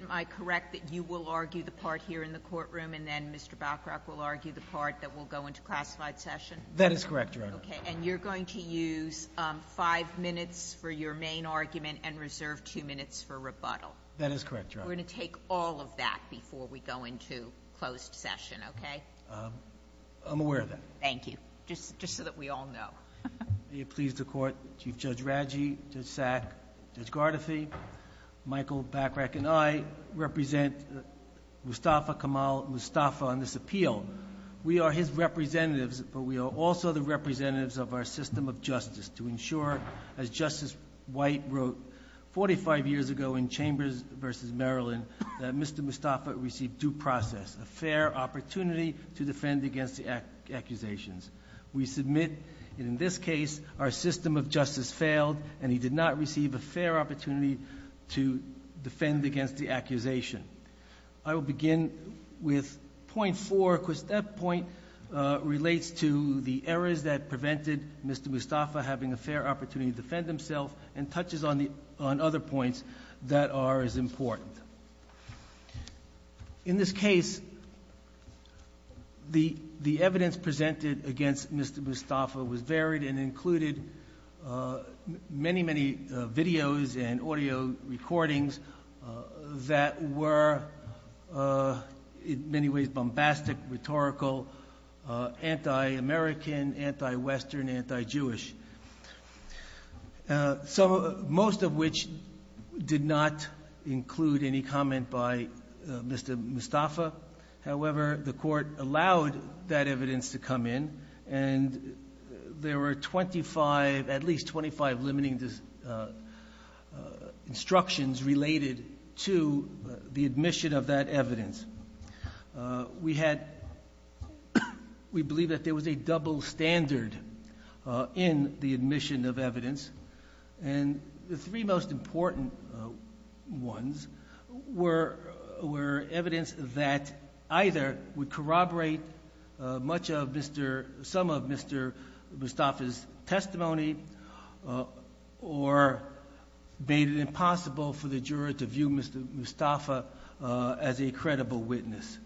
Am I correct that you will argue the part here in the courtroom and then Mr. Bachrach will argue the part that will go into classified session? That is correct, Your Honor. Okay, and you're going to use five minutes for your main argument and reserve two minutes for rebuttal? That is correct, Your Honor. We're gonna take all of that before we go into closed session, okay? I'm aware of that. Thank you. Just just so that we all know. May it please the court, Chief Judge White represent Mustafa Kamal Mustafa on this appeal. We are his representatives, but we are also the representatives of our system of justice to ensure, as Justice White wrote 45 years ago in Chambers v. Maryland, that Mr. Mustafa received due process, a fair opportunity to defend against the accusations. We submit in this case our system of justice failed and he did not defend against the accusation. I will begin with point four because that point relates to the errors that prevented Mr. Mustafa having a fair opportunity to defend himself and touches on the on other points that are as important. In this case, the the evidence presented against Mr. Mustafa was varied and that were in many ways bombastic, rhetorical, anti-American, anti-Western, anti-Jewish. So most of which did not include any comment by Mr. Mustafa. However, the court allowed that evidence to come in and there were 25, at least 25 limiting instructions related to the admission of that evidence. We had, we believe that there was a double standard in the admission of evidence and the three most important ones were evidence that either would corroborate much of Mr., some of Mr. Mustafa's testimony or made it impossible for the juror to view Mr. Mustafa as a credible witness.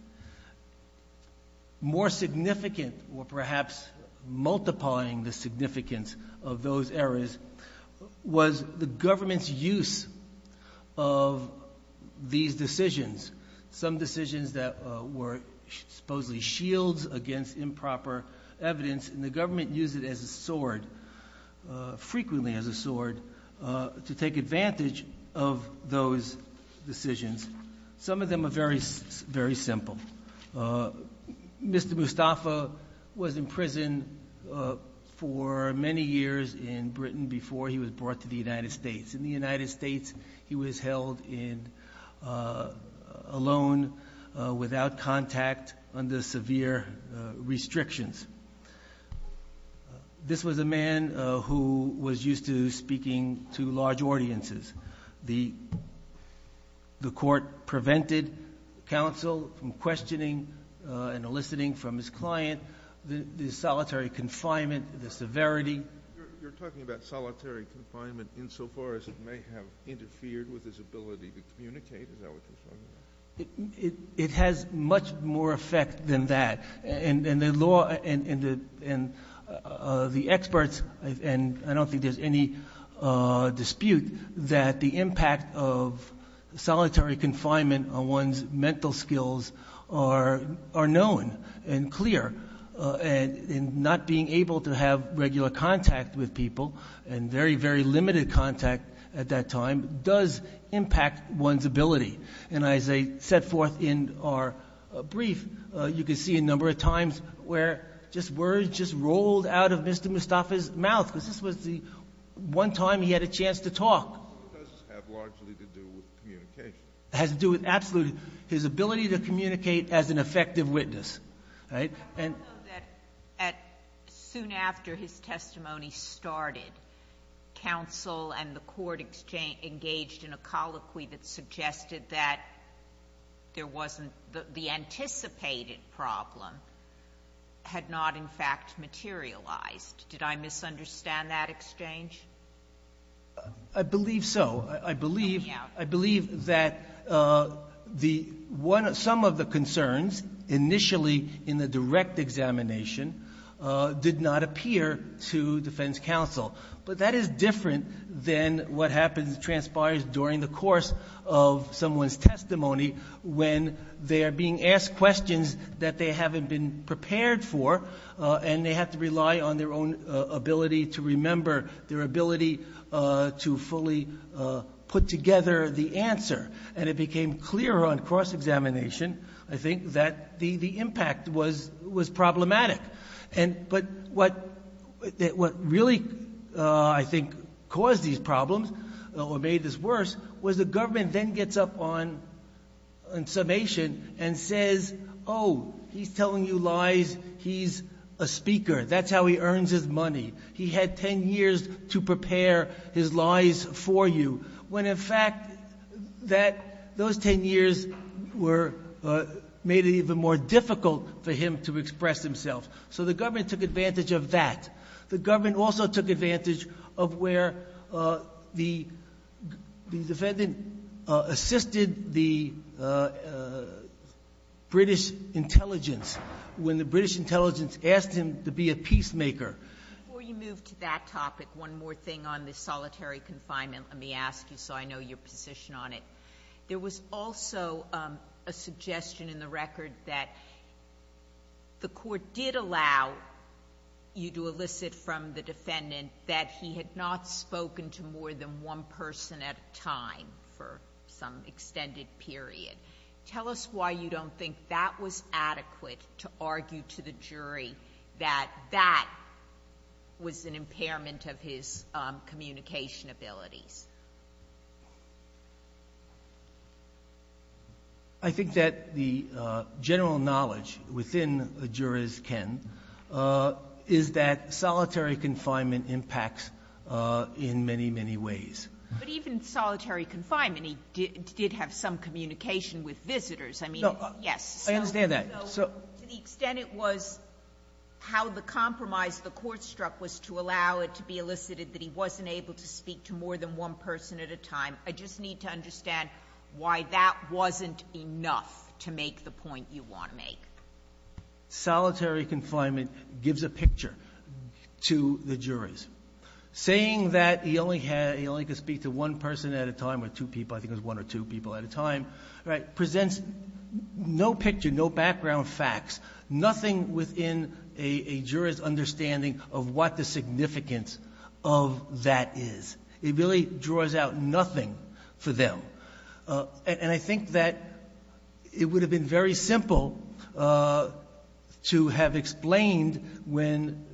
More significant or perhaps multiplying the significance of those errors was the government's use of these decisions, some evidence, and the government used it as a sword, frequently as a sword, to take advantage of those decisions. Some of them are very, very simple. Mr. Mustafa was in prison for many years in Britain before he was brought to the United States. In the United States, he was held in, alone, without contact under severe restrictions. This was a man who was used to speaking to large audiences. The court prevented counsel from questioning and eliciting from his client the solitary confinement, the severity. You're talking about solitary confinement insofar as it may have interfered with his ability to communicate, is that what you're saying? It has much more effect than that. And the law and the experts, and I don't think there's any dispute that the impact of solitary confinement on one's mental skills are known and clear. And not being able to have regular contact with people, and very, very limited contact at that time, does impact one's ability. And as I set forth in our testimony, there were a number of times where just words just rolled out of Mr. Mustafa's mouth, because this was the one time he had a chance to talk. It does have largely to do with communication. It has to do with, absolutely, his ability to communicate as an effective witness. I know that soon after his testimony started, counsel and the court engaged in a colloquy that had not, in fact, materialized. Did I misunderstand that exchange? I believe so. I believe that some of the concerns initially in the direct examination did not appear to defense counsel. But that is different than what happens, transpires during the course of someone's testimony, when they are being asked questions that they haven't been prepared for, and they have to rely on their own ability to remember, their ability to fully put together the answer. And it became clear on cross-examination, I think, that the impact was problematic. But what really, I think, caused these problems, or made this worse, was the government then gets up on summation and says, oh, he's telling you lies. He's a speaker. That's how he earns his money. He had ten years to prepare his lies for you. When, in fact, those ten years made it even more difficult for him to express himself. So the government took advantage of that. The government also took advantage of where the defendant assisted the British intelligence, when the British intelligence asked him to be a peacemaker. Before you move to that topic, one more thing on the solitary confinement, let me ask you so I know your position on it. There was also a suggestion in the record that the court did allow you to elicit from the defendant that he had not spoken to more than one person at a time for some extended period. Tell us why you don't think that was adequate to argue to the jury that that was an impairment of his communication abilities. I think that the general knowledge within a jurors' ken is that solitary confinement impacts in many, many ways. But even solitary confinement, he did have some communication with visitors. I mean, yes. I understand that. To the extent it was how the compromise the court struck was to allow it to be elicited that he wasn't able to speak to more than one person at a time, I just need to understand why that wasn't enough to make the point you want to make. Solitary confinement gives a picture to the jurors. Saying that he only had, he only could speak to one person at a time or two people, I think it was one or two people at a time, presents no picture, no background facts, nothing within a jurors' understanding of what the significance of that is. It really draws out nothing for them. And I think that it would have been very simple to have explained when,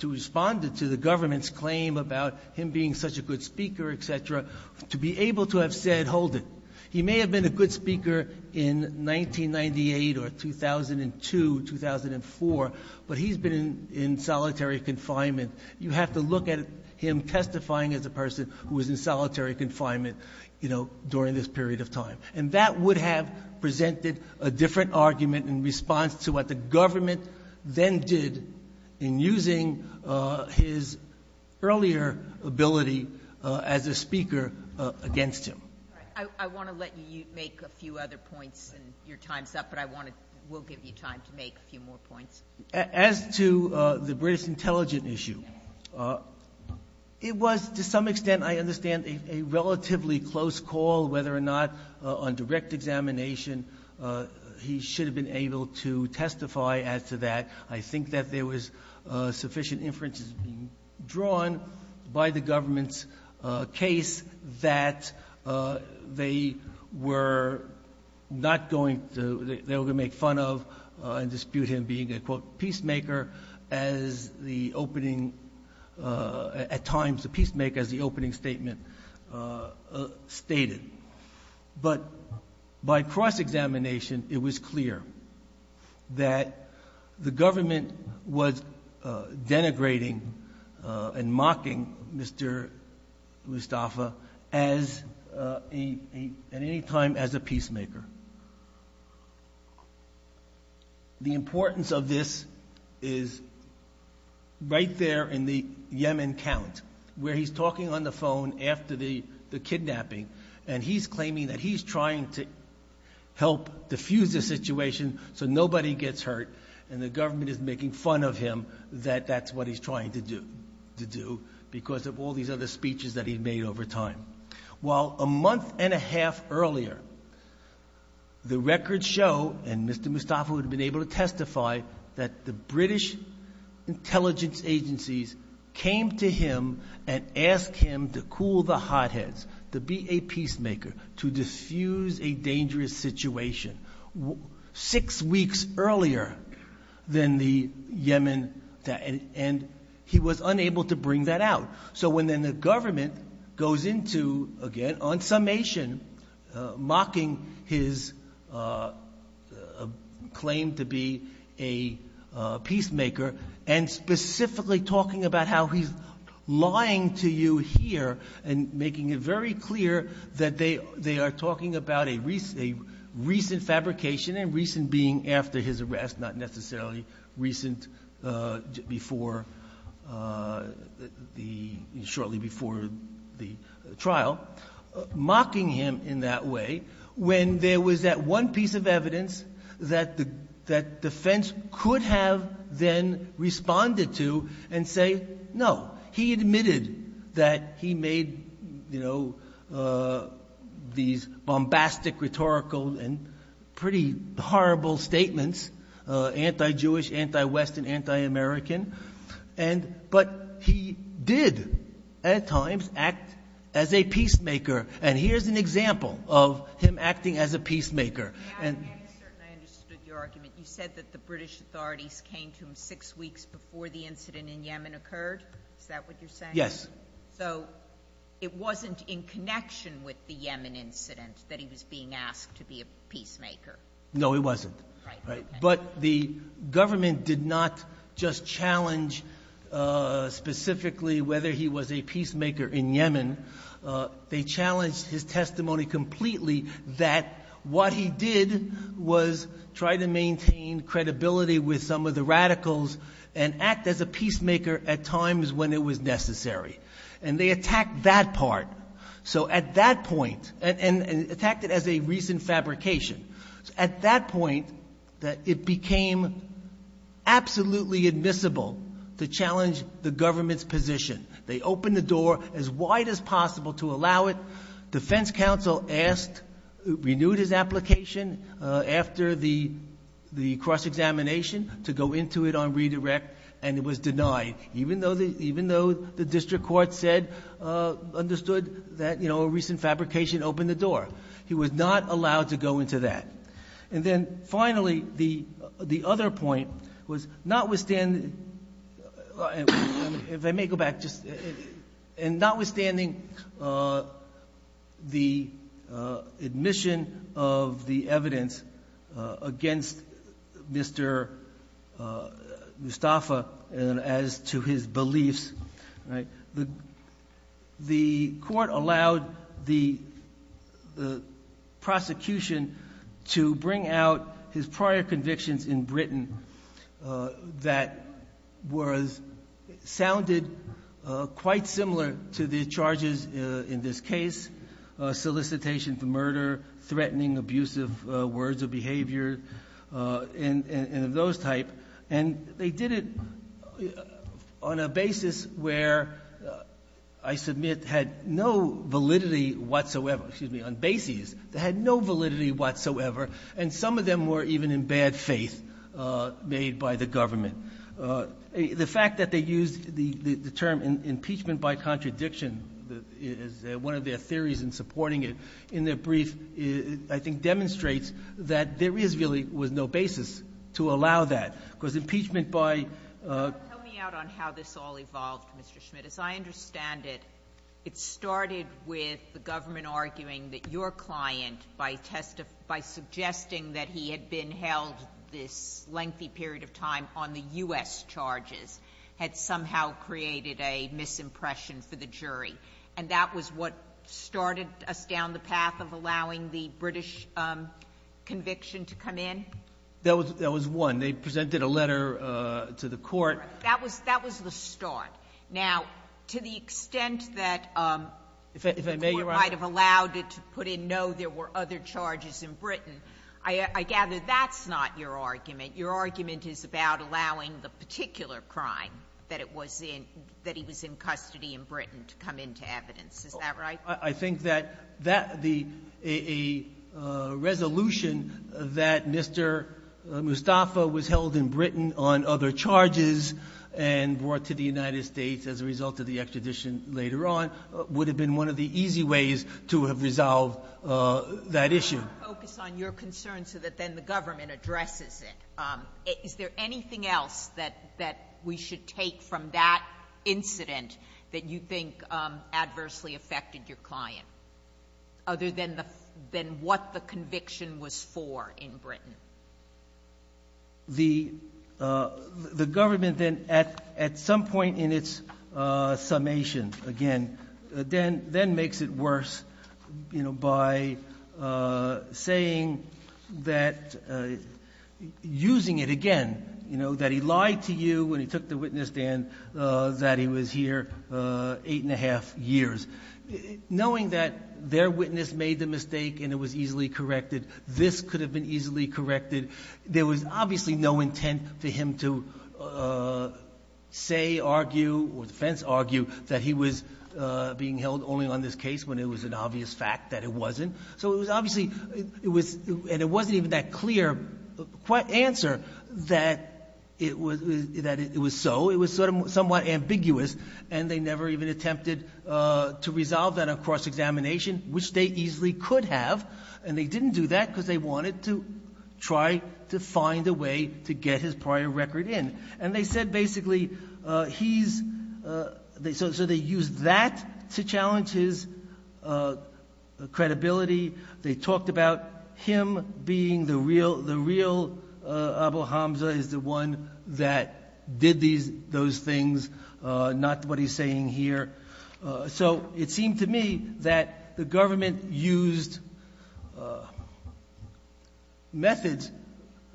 to respond to the government's claim about him being such a good speaker, etc., to be able to have said, hold it. He may have been a good speaker in 1998 or 2002, 2004, but he's been in solitary confinement. You have to look at him testifying as a person who was in solitary confinement, you know, during this period of time. And that would have presented a different argument in response to what the government then did in using his earlier ability as a speaker against him. I want to let you make a few other points and your time's up, but I want to, we'll give you time to make a few more points. As to the British intelligence issue, it was, to some extent, I understand, a relatively close call whether or not on direct examination he should have been able to testify as to that. I think that there was sufficient inferences being drawn by the government's case that they were not going to, they were going to make fun of and dispute him being a, quote, peacemaker as the opening, at times, a peacemaker as the opening statement stated. But by cross-examination, it was clear that the government was denigrating and mocking Mr. Mustafa at any time as a peacemaker. The importance of this is right there in the Yemen count, where he's talking on the phone after the kidnapping, and he's claiming that he's trying to help defuse the situation so nobody gets hurt, and the government is making fun of him that that's what he's trying to do because of all these other speeches that he'd made over time. While a month and a half earlier, the records show, and Mr. Mustafa would have been able to testify, that the British intelligence agencies came to him and asked him to cool the hotheads, to be a peacemaker, to defuse a dangerous situation, six weeks earlier than the Yemen, and he was unable to bring that out. So when then the government goes into, again, on summation, mocking his claim to be a peacemaker, and specifically talking about how he's lying to you here and making it very clear that they are talking about a recent fabrication and recent being after his arrest, not necessarily recent shortly before the trial, mocking him in that way when there was that one piece of evidence that defense could have then responded to and say, no, he admitted that he made these bombastic rhetorical and pretty horrible statements, anti-Jewish, anti-Western, anti-American, but he did at times act as a peacemaker, and here's an example of him acting as a peacemaker. I understood your argument. You said that the British authorities came to him six weeks before the incident in Yemen occurred? Is that what you're saying? Yes. So it wasn't in connection with the Yemen incident that he was being asked to be a peacemaker? No, it wasn't. Right. But the government did not just challenge specifically whether he was a peacemaker in Yemen. They challenged his testimony completely that what he did was try to maintain credibility with some of the radicals and act as a peacemaker at times when it was necessary, and they attacked that part, and attacked it as a recent fabrication. At that point, it became absolutely admissible to challenge the government's position. They opened the door as wide as possible to allow it. Defense counsel asked, renewed his application after the cross-examination to go into it on redirect, and it was denied, even though the district court said, understood that, you know, a recent fabrication opened the door. He was not allowed to go into that. And then finally, the other point was notwithstanding, if I may go back, and notwithstanding the admission of the evidence against Mr. Mustafa and as to his beliefs, right, the court allowed the prosecution to bring out his prior convictions in Britain that sounded quite similar to the charges in this case, solicitation for murder, threatening, abusive words of behavior, and of those type. And they did it on a basis where I submit had no validity whatsoever, excuse me, on bases that had no validity whatsoever, and some of them were even in bad faith made by the government. The fact that they used the term impeachment by contradiction as one of their theories in supporting it in their brief, I think demonstrates that there is really was no basis to allow that. Because impeachment by ---- Tell me out on how this all evolved, Mr. Schmidt. As I understand it, it started with the government arguing that your client by suggesting that he had been held this lengthy period of time on the U.S. charges had somehow created a misimpression for the jury. And that was what started us down the path of allowing the British conviction to come in? That was one. They presented a letter to the court. That was the start. Now, to the extent that the court might have allowed it to put in no, there were other charges in Britain, I gather that's not your argument. Your argument is about allowing the particular crime that he was in custody in Britain to come into evidence. Is that right? I think that a resolution that Mr. Mustafa was held in Britain on other charges and brought to the United States as a result of the extradition later on would have been one of the easy ways to have resolved that issue. I want to focus on your concern so that then the government addresses it. Is there anything else that we should take from that incident that you think adversely affected your client other than what the conviction was for in Britain? The government then at some point in its summation, again, then makes it worse by saying that, using it again, that he lied to you when he took the witness, Dan, that he was here eight and a half years. Knowing that their witness made the mistake and it was easily corrected, this could have been easily corrected, the defense argued that he was being held only on this case when it was an obvious fact that it wasn't. So it was obviously, and it wasn't even that clear answer, that it was so. It was somewhat ambiguous, and they never even attempted to resolve that on cross-examination, which they easily could have, and they didn't do that because they wanted to try to find a way to get his prior record in. And they said, basically, he's... So they used that to challenge his credibility. They talked about him being the real Abu Hamza, is the one that did those things, not what he's saying here. So it seemed to me that the government used methods,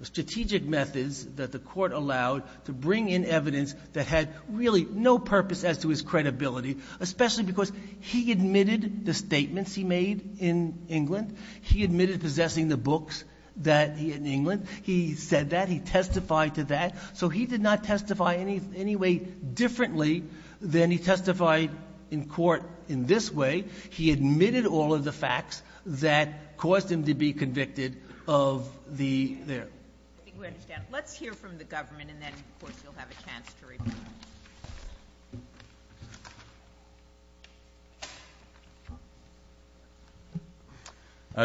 strategic methods that the court allowed to bring in evidence that had really no purpose as to his credibility, especially because he admitted the statements he made in England. He admitted possessing the books that he had in England. He said that. He testified to that. So he did not testify any way differently He admitted all of the facts that caused him to be convicted of the... I think we understand. Let's hear from the government, and then, of course, you'll have a chance to reply.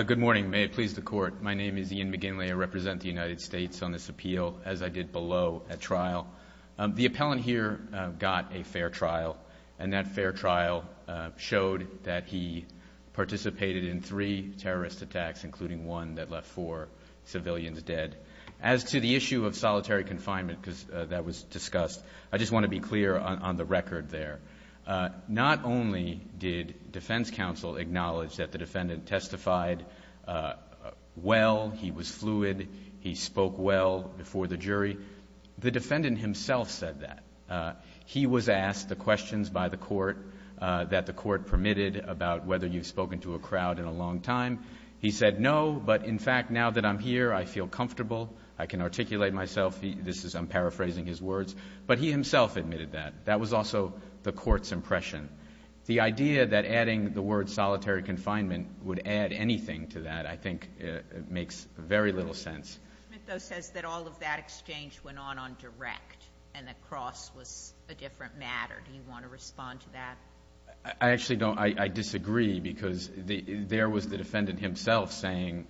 Good morning. May it please the Court. My name is Ian McGinley. I represent the United States on this appeal, as I did below at trial. The appellant here got a fair trial, and that fair trial showed that he participated in three terrorist attacks, including one that left four civilians dead. As to the issue of solitary confinement because that was discussed, I just want to be clear on the record there. Not only did defense counsel acknowledge that the defendant testified well, he was fluid, he spoke well before the jury, the defendant himself said that. He was asked the questions by the court that the court permitted about whether you've spoken to a crowd in a long time. He said, no, but in fact, now that I'm here, I feel comfortable. I can articulate myself. I'm paraphrasing his words. But he himself admitted that. That was also the court's impression. The idea that adding the word solitary confinement would add anything to that, I think, makes very little sense. Smith, though, says that all of that exchange went on on direct and that cross was a different matter. Do you want to respond to that? I actually don't. I disagree because there was the defendant himself saying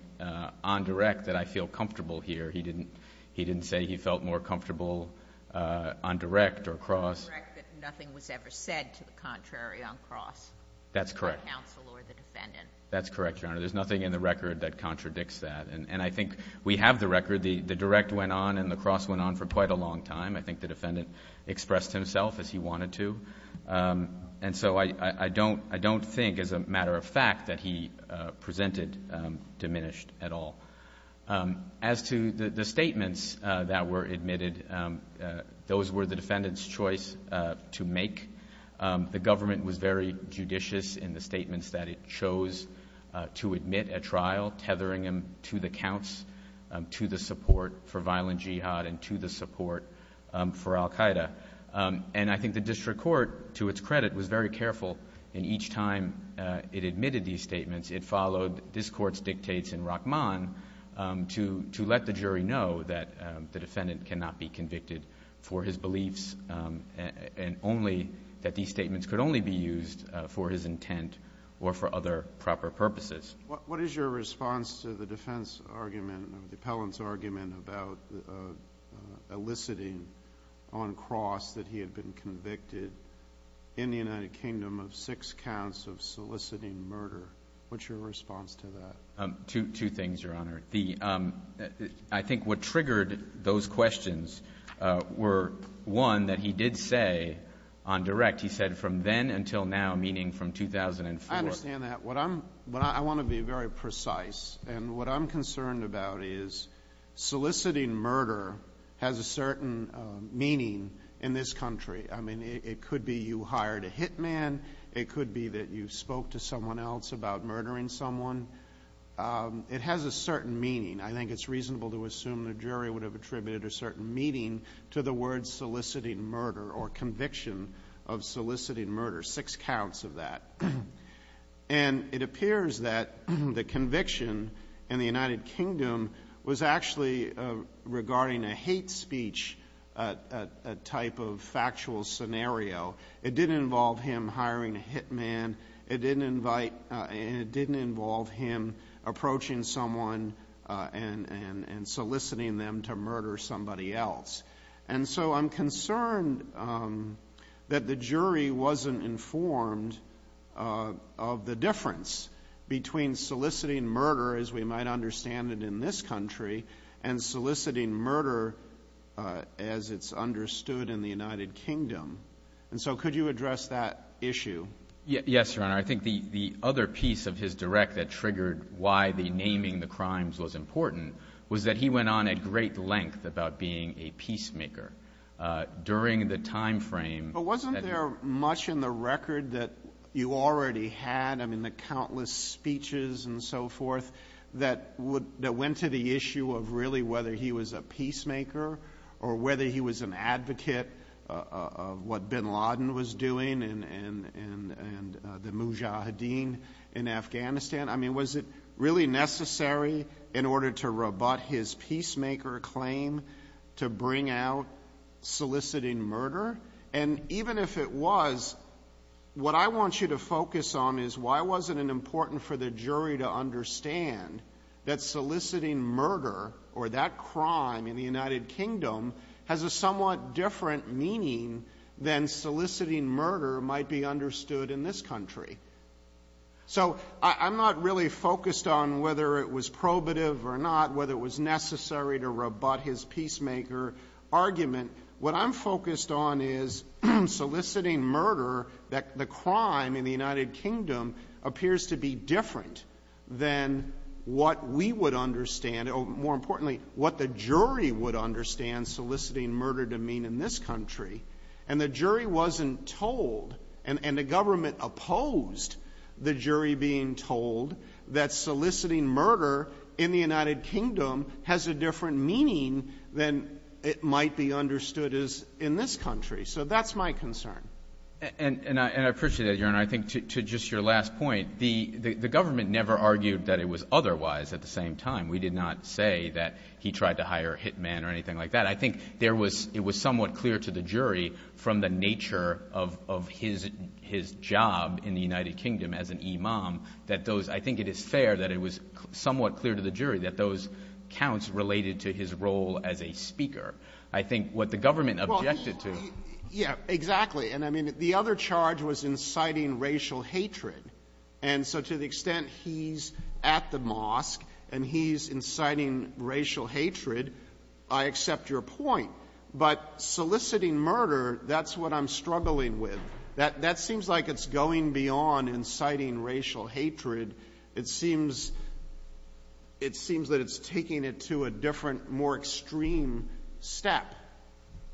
on direct that I feel comfortable here. He didn't say he felt more comfortable on direct or cross. That nothing was ever said to the contrary on cross. That's correct. By counsel or the defendant. That's correct, Your Honor. There's nothing in the record that contradicts that. And I think we have the record. The direct went on and the cross went on for quite a long time. I think the defendant expressed himself as he wanted to. And so I don't think, as a matter of fact, that he presented diminished at all. As to the statements that were admitted, those were the defendant's choice to make. The government was very judicious in the statements that it chose to admit at trial, tethering him to the counts, to the support for violent jihad and to the support for Al-Qaeda. And I think the district court, to its credit, was very careful. And each time it admitted these statements, it followed this court's dictates in Rahman to let the jury know that the defendant cannot be convicted for his beliefs and only that these statements could only be used for his intent or for other proper purposes. What is your response to the defense argument, the appellant's argument about eliciting on cross that he had been convicted in the United Kingdom of six counts of soliciting murder? What's your response to that? Two things, Your Honor. I think what triggered those questions were, one, that he did say on direct, he said, from then until now, meaning from 2004. I understand that. But I want to be very precise. And what I'm concerned about is soliciting murder has a certain meaning in this country. I mean, it could be you hired a hitman. It could be that you spoke to someone else about murdering someone. It has a certain meaning. I think it's reasonable to assume the jury would have attributed a certain meaning to the word soliciting murder or conviction of soliciting murder, six counts of that. And it appears that the conviction in the United Kingdom was actually regarding a hate speech type of factual scenario. It didn't involve him hiring a hitman. It didn't invite, it didn't involve him approaching someone and soliciting them to murder somebody else. And so I'm concerned that the jury wasn't informed of the difference between soliciting murder, as we might understand it in this country, and soliciting murder as it's understood in the United Kingdom. And so could you address that issue? Yes, Your Honor. I think the other piece of his direct that triggered why the naming the crimes was important was that he went on at great length about being a peacemaker during the time frame. But wasn't there much in the record that you already had? I mean, the countless speeches and so forth that went to the issue of really whether he was a peacemaker or whether he was an advocate of what bin Laden was doing and the mujahideen in Afghanistan? I mean, was it really necessary in order to rebut his peacemaker claim to bring out soliciting murder? And even if it was, what I want you to focus on is why wasn't it important for the jury to understand that soliciting murder or that crime in the United Kingdom has a somewhat different meaning than soliciting murder might be understood in this country. So I'm not really focused on whether it was probative or not, whether it was necessary to rebut his peacemaker argument. What I'm focused on is soliciting murder that the crime in the United Kingdom appears to be different than what we would understand or, more importantly, what the jury would understand soliciting murder to mean in this country. And the jury wasn't told and the government opposed the jury being told that soliciting murder in the United Kingdom has a different meaning than it might be understood as in this country. So that's my concern. And I appreciate that, Your Honor. I think to just your last point, the government never argued that it was otherwise at the same time. We did not say that he tried to hire a hitman or anything like that. I think it was somewhat clear to the jury from the nature of his job in the United Kingdom as an imam that those, I think it is fair that it was I think what the government objected to Yeah, exactly. And I mean, the other charge was inciting racial hatred. And so to the extent he's at the mosque and he's inciting racial hatred, I accept your point. But soliciting murder, that's what I'm struggling with. That seems like it's going beyond inciting racial hatred. It seems that it's taking it to a different, more extreme step.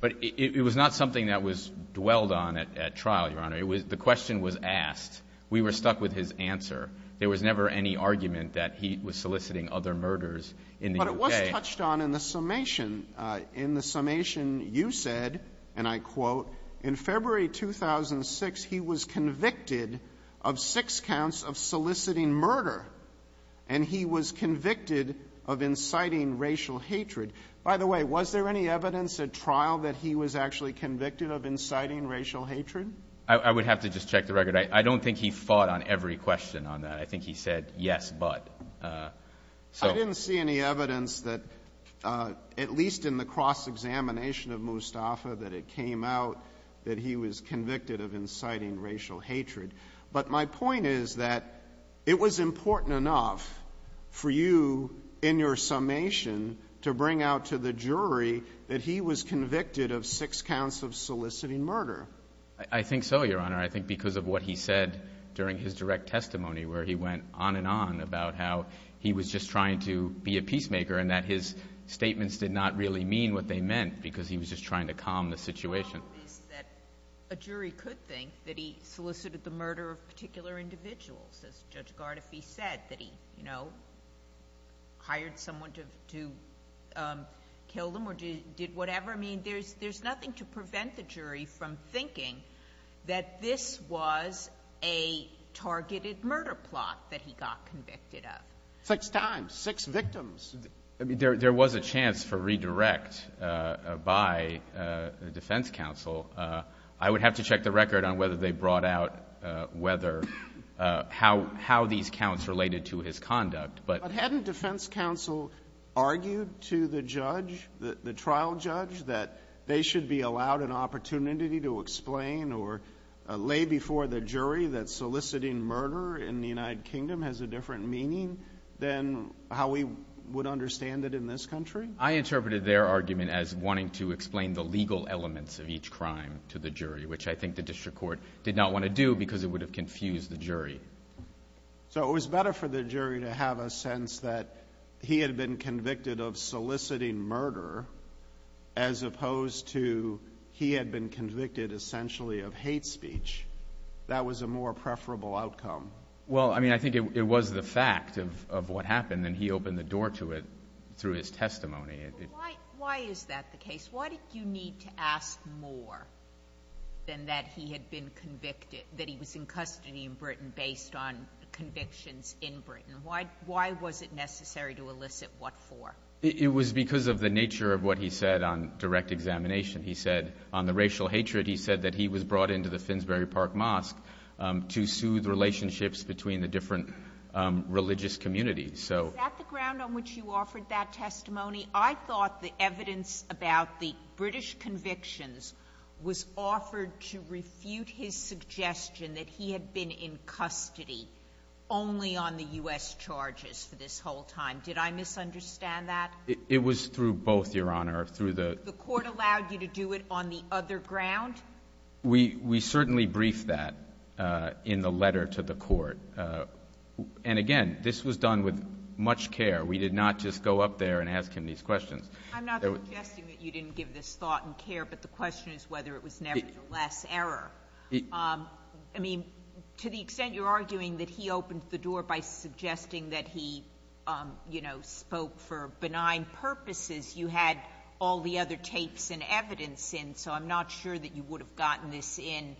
But it was not something that was dwelled on at trial, Your Honor. The question was asked. We were stuck with his answer. There was never any argument that he was soliciting other murders in the UK. But it was touched on in the summation. In the summation, you said, and I quote, in February 2006, he was convicted of six counts of soliciting murder. And he was convicted of inciting racial hatred. By the way, was there any evidence at trial that he was actually convicted of inciting racial hatred? I would have to just check the record. I don't think he fought on every question on that. I think he said, yes, but. I didn't see any evidence that at least in the cross-examination of Mustafa that it came out that he was convicted of inciting racial hatred. But my point is that it was important enough for you in your summation to bring out to the jury that he was convicted of six counts of soliciting murder. I think so, Your Honor. I think because of what he said during his direct testimony where he went on and on about how he was just trying to be a peacemaker and that his statements did not really mean what they meant because he was just trying to calm the situation. The problem is that a jury could think that he solicited the murder of particular individuals, as Judge Gardefee said, that he, you know, hired someone to kill them or did whatever. I mean, there's nothing to prevent the jury from thinking that this was a targeted murder plot that he got convicted of. Six times. Six victims. There was a chance for redirect by the defense counsel. I would have to check the record on whether they brought out whether how these counts related to his conduct. But hadn't defense counsel argued to the judge, the trial judge, that they should be allowed an opportunity to explain or lay before the jury that soliciting murder in the United Kingdom has a different meaning than how we would understand it in this country? I interpreted their argument as wanting to explain the legal elements of each crime to the jury, which I think the district court did not want to do because it would have confused the jury. So it was better for the jury to have a sense that he had been convicted of soliciting murder as opposed to he had been convicted essentially of hate speech. That was a more preferable outcome. Well, I mean, I think it was the fact of what happened, and he opened the door to it through his testimony. Why is that the case? Why did you need to ask more than that he had been convicted, that he was in custody in Britain based on convictions in Britain? Why was it necessary to elicit what for? It was because of the nature of what he said on direct examination. He said on the racial hatred, he said that he was brought into the Finsbury Park Mosque to soothe relationships between the different religious communities. Is that the ground on which you offered that testimony? I thought the evidence about the British convictions was offered to refute his suggestion that he had been in custody only on the U.S. charges for this whole time. Did I misunderstand that? It was through both, Your Honor. The court allowed you to do it on the other ground? We certainly briefed that in the letter to the court. And again, this was done with much care. We did not just go up there and ask him these questions. I'm not suggesting that you didn't give this thought and care, but the question is whether it was nevertheless error. I mean, to the extent you're arguing that he opened the door by suggesting that he spoke for benign purposes, you had all the other tapes and evidence in, so I'm not sure that you would have gotten this in.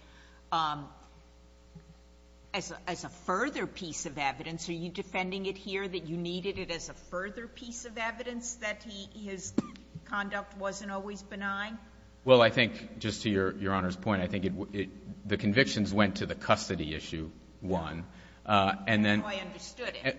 As a further piece of evidence, are you defending it here that you needed it as a further piece of evidence that his conduct wasn't always benign? Well, I think, just to Your Honor's point, I think the convictions went to the custody issue, one, and then... That's how I understood it.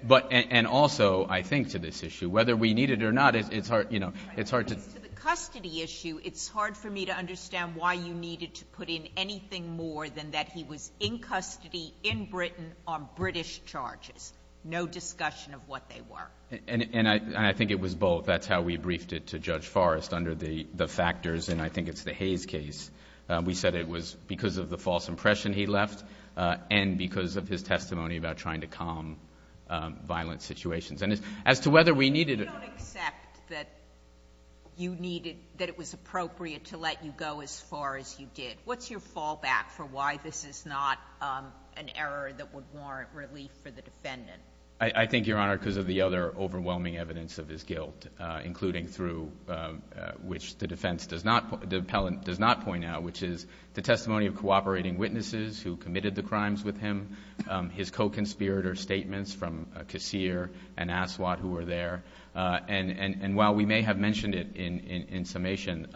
And also, I think, to this issue, whether we need it or not, it's hard to... To the custody issue, it's hard for me to understand why you needed to put in anything more than that he was in custody in Britain on British charges, no discussion of what they were. And I think it was both. That's how we briefed it to Judge Forrest under the factors, and I think it's the Hayes case. We said it was because of the false impression he left and because of his testimony about trying to calm violent situations. And as to whether we needed... You don't accept that you needed, that it was appropriate to let you go as far as you did. What's your fallback for why this is not an error that would warrant relief for the defendant? I think, Your Honor, because of the other overwhelming evidence of his guilt, including through which the defense does not... does not point out, which is the testimony of cooperating witnesses who committed the crimes with him, his co-conspirator statements from Kassir and Aswad who were there. And while we may have mentioned it in summation,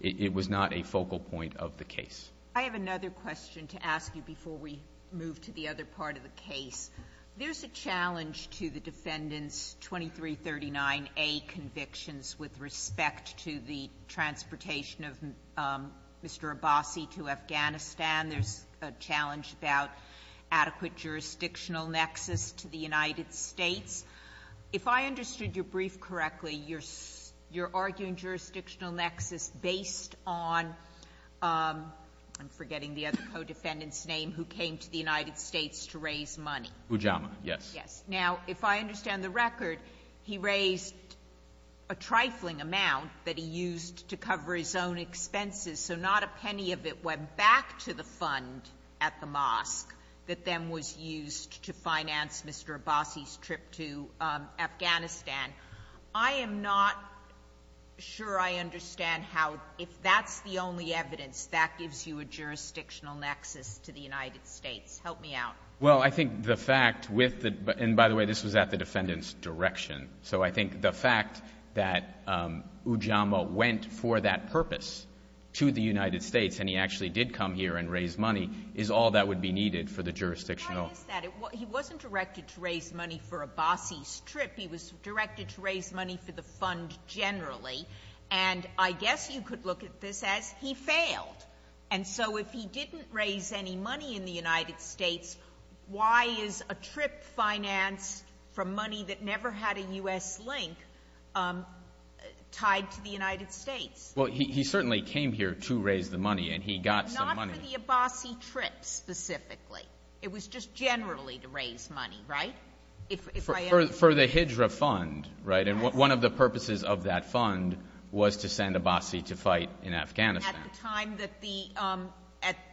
it was not a focal point of the case. I have another question to ask you before we move to the other part of the case. There's a challenge to the defendant's 2339A convictions with respect to the transportation of Mr. Abbasi to Afghanistan. There's a challenge about adequate jurisdictional nexus to the United States. If I understood your brief correctly, you're arguing jurisdictional nexus based on... I'm forgetting the other co-defendant's name who came to the United States to raise money. Ujamaa, yes. Yes. Now, if I understand the record, he raised a trifling amount that he used to cover his own expenses, so not a penny of it went back to the fund at the mosque that then was used to finance Mr. Abbasi's trip to Afghanistan. I am not sure I understand how, if that's the only evidence, that gives you a jurisdictional nexus to the United States. Help me out. Well, I think the fact with the, and by the way, this was at the defendant's direction, so I think the fact that Ujamaa went for that purpose to the United States and he actually did come here and raise money is all that would be needed for the jurisdictional... Why is that? He wasn't directed to raise money for Abbasi's trip. He was directed to raise money for the fund generally, and I guess you could look at this as he failed, and so if he didn't raise any money in the United States, why is a trip financed for money that never had a U.S. link tied to the United States? Well, he certainly came here to raise the money and he got some money. Not for the Abbasi trip, specifically. It was just generally to raise money, right? For the Qajar fund, right? And one of the purposes of that fund was to send Abbasi to fight in Afghanistan. At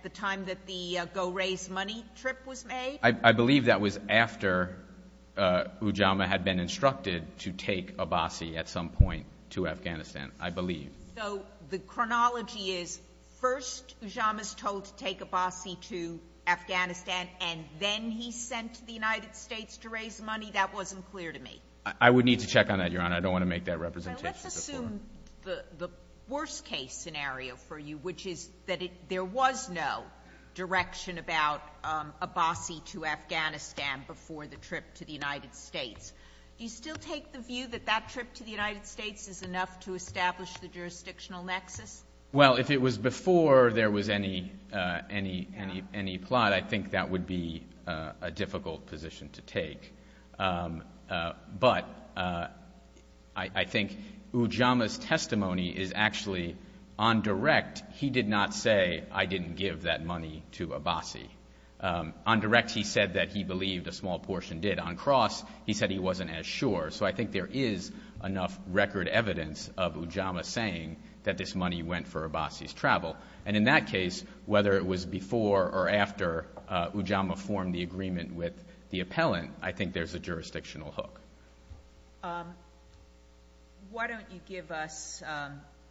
the time that the go-raise money trip was made? I believe that was after Ujamaa had been instructed to take Abbasi at some point to Afghanistan, I believe. So the chronology is, first Ujamaa's told to take Abbasi to Afghanistan, and then he sent to the United States to raise money? That wasn't clear to me. I would need to check on that, Your Honor. I don't want to make that representation. Let's assume the worst case scenario for you, which is that there was no direction about Abbasi to Afghanistan before the trip to the United States. Do you still take the view that that trip to the United States is enough to establish the jurisdictional nexus? Well, if it was before there was any plot, I think that would be a difficult position to take. But Ujamaa's testimony is actually, on direct, he did not say, I didn't give that money to Abbasi. On direct, he said that he believed a small portion did. On cross, he said he wasn't as sure. So I think there is enough record evidence of Ujamaa saying that this money went for Abbasi's travel. And in that case, whether it was before or after Ujamaa formed the agreement with the appellant, I think there's a jurisdictional hook. Why don't you give us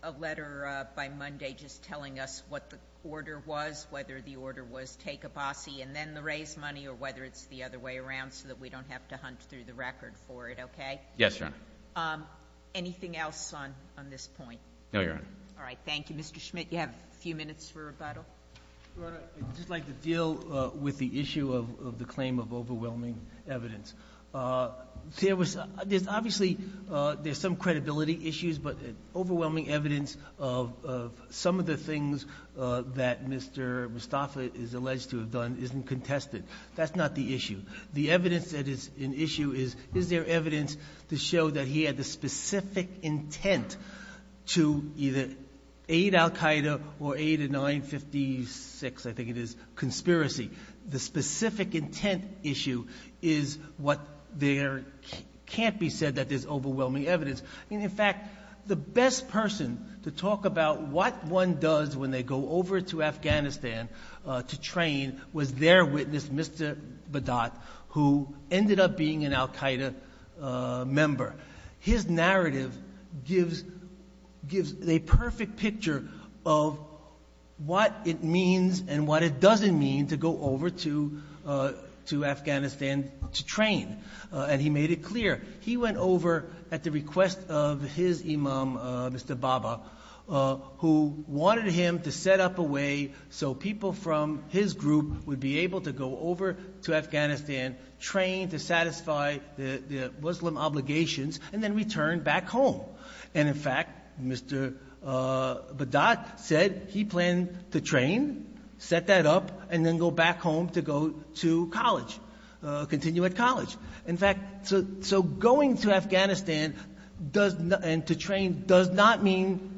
a letter by Monday just telling us what the order was, whether the order was take Abbasi and then the raised money, or whether it's the other way around so that we don't have to hunt through the record for it, okay? Yes, Your Honor. Anything else on this point? No, Your Honor. All right. Thank you. Mr. Schmidt, you have a few minutes for rebuttal. Your Honor, I'd just like to deal with the issue of the claim of overwhelming evidence. Obviously, there's some credibility issues, but overwhelming evidence of some of the things that Mr. Mustafa is alleged to have done isn't contested. That's not the issue. The evidence that is an issue is, is there evidence to show that he had the specific intent to either aid al-Qaeda or aid in 1956, I think it is, conspiracy. The specific intent issue is what there can't be said that there's overwhelming evidence. In fact, the best person to talk about what one does when they go over to Afghanistan to train was their witness, Mr. Badat, who ended up being an al-Qaeda member. His narrative gives a perfect picture of what it means and what it doesn't mean to go over to Afghanistan to train. He made it clear. He went over at the request of his imam, Mr. Baba, who wanted him to set up a way so people from his group would be able to go over to Afghanistan, train to satisfy the Muslim obligations, and then return back home. And in fact, Mr. Badat said he planned to train, set that up, and then go back home to go to college, continue at college. In fact, so going to Afghanistan and to train does not mean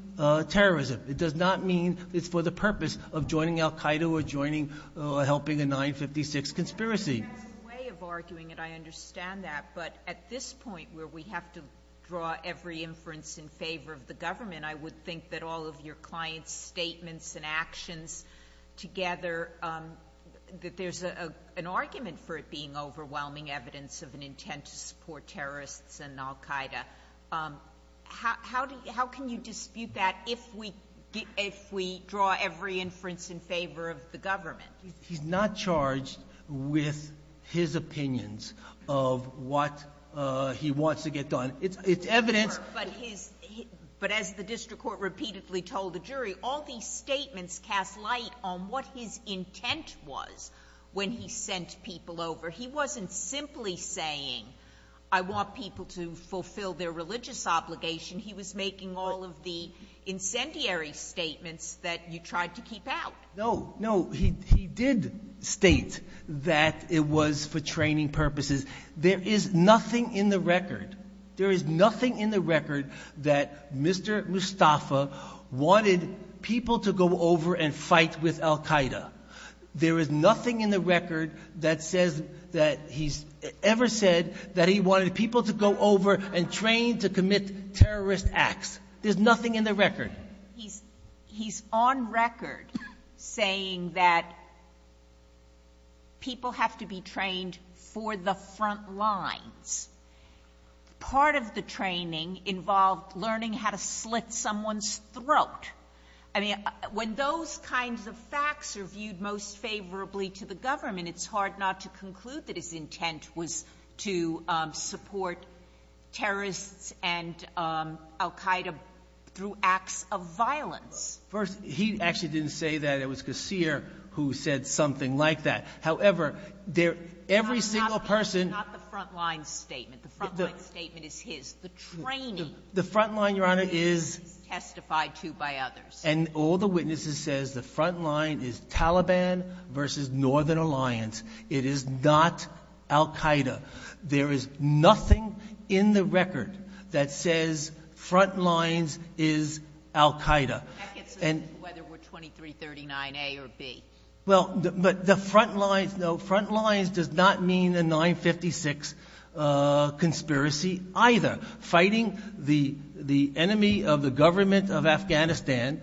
terrorism. It does not mean it's for the purpose of joining al-Qaeda or joining or helping a 1956 conspiracy. I understand that, but at this point where we have to draw every inference in favor of the government, I would think that all of your clients' statements and actions together, that there's an argument for it being overwhelming evidence of an intent to support terrorists and al-Qaeda. How can you dispute that if we draw every inference in favor of the government? He's not charged with his opinions of what he wants to get done. It's evidence. But as the district court repeatedly told the jury, all these statements cast light on what his intent was when he sent people over. He wasn't simply saying I want people to fulfill their religious obligation. He was making all of the incendiary statements that you tried to keep out. No, no. He did state that it was for training purposes. There is nothing in the record there is nothing in the record that Mr. Mustafa go over and fight with al-Qaeda. There is nothing in the record that says that he's ever said that he wanted people to go over and train to commit terrorist acts. There's nothing in the record. He's on record saying that people have to be trained for the front lines. Part of the training involved learning how to slit someone's throat. I mean, when those kinds of facts are viewed most favorably to the government, it's hard not to conclude that his intent was to support terrorists and al-Qaeda through acts of violence. First, he actually didn't say that. It was Qasir who said something like that. However, every single person... Not the front line statement. The front line statement is his. The training... The front line, Your Honor, is... Testified to by others. And all the witnesses says the front line is Taliban versus Northern Alliance. It is not al-Qaeda. There is nothing in the record that says front lines is al-Qaeda. Whether we're 2339 A or B. But the front lines does not mean a 956 conspiracy either. Fighting the enemy of the government of Afghanistan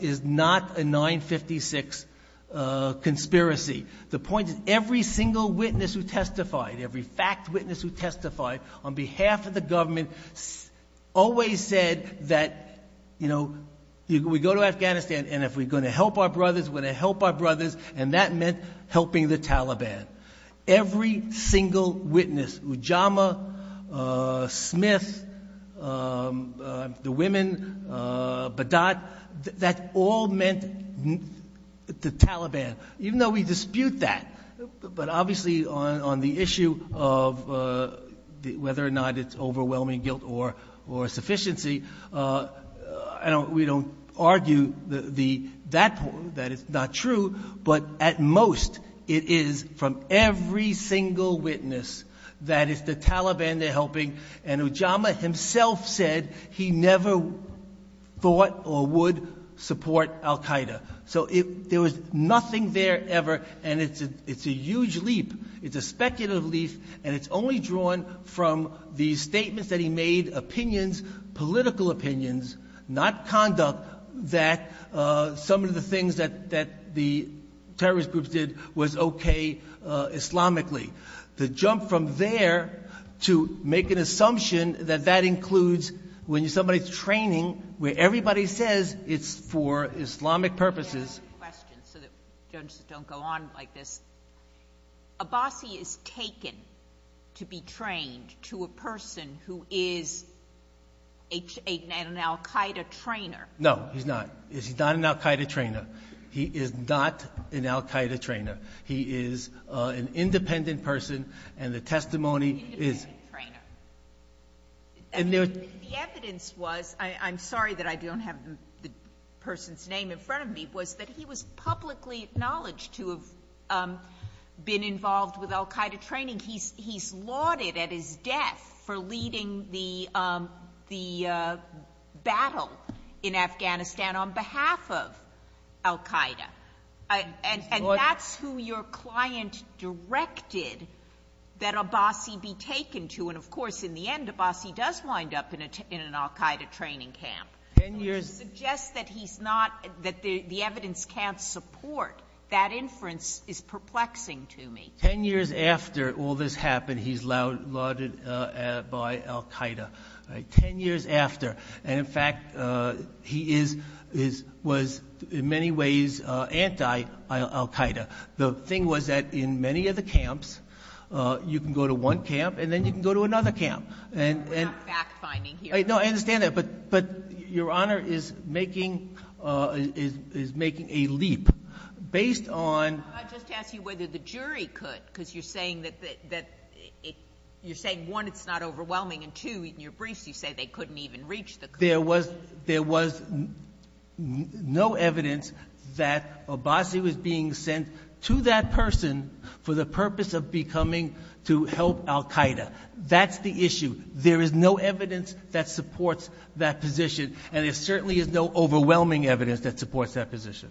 is not a 956 conspiracy. The point is every single witness who testified, every fact witness who testified on behalf of the government always said that, you know, we go to Afghanistan and if we're going to help our brothers, we're going to help our brothers. And that meant helping the Taliban. Every single witness. Ujamaa, Smith, the women, Badad, that all meant the Taliban. Even though we dispute that. But obviously, on the issue of whether or not it's overwhelming guilt or sufficiency, we don't argue that it's not true. But at most, it is from every single witness that it's the Taliban they're helping and Ujamaa himself said he never thought or would support al-Qaeda. So there was nothing there ever and it's a huge leap. It's a speculative leap and it's only drawn from the statements that he made, opinions, political opinions, not conduct, that some of the things that the terrorist groups did was okay Islamically. The jump from there to make an assumption that that includes when somebody's training where everybody says it's for Islamic purposes. ...so that judges don't go on like this. Abbasi is trained to a person who is an al-Qaeda trainer. No, he's not. He's not an al-Qaeda trainer. He is not an al-Qaeda trainer. He is an independent person and the testimony is... The evidence was, I'm sorry that I don't have the person's name in front of me, was that he was publicly acknowledged to have been involved with al-Qaeda training. He's lauded at his death for leading the battle in Afghanistan on behalf of al-Qaeda and that's who your client directed that Abbasi be taken to and of course in the end Abbasi does wind up in an al-Qaeda training camp. Which suggests that he's not, that the evidence can't support that inference is perplexing to me. Ten years after all this happened he's lauded by al-Qaeda. Ten years after and in fact he is, was in many ways anti-al-Qaeda. The thing was that in many of the camps you can go to one camp and then you can go to another camp. We're not fact finding here. No, I understand that but your honor is making a leap based on... Can I just ask you whether the jury could because you're saying that you're saying one it's not overwhelming and two in your briefs you say they couldn't even reach the... There was there was no evidence that Abbasi was being sent to that person for the purpose of becoming to help al-Qaeda. That's the issue. There is no evidence that supports that position and there certainly is no overwhelming evidence that supports that position.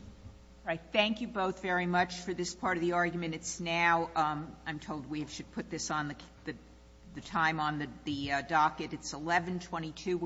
Thank you both very much for this part of the argument. It's now I'm told we should put this on the time on the docket. It's 11.22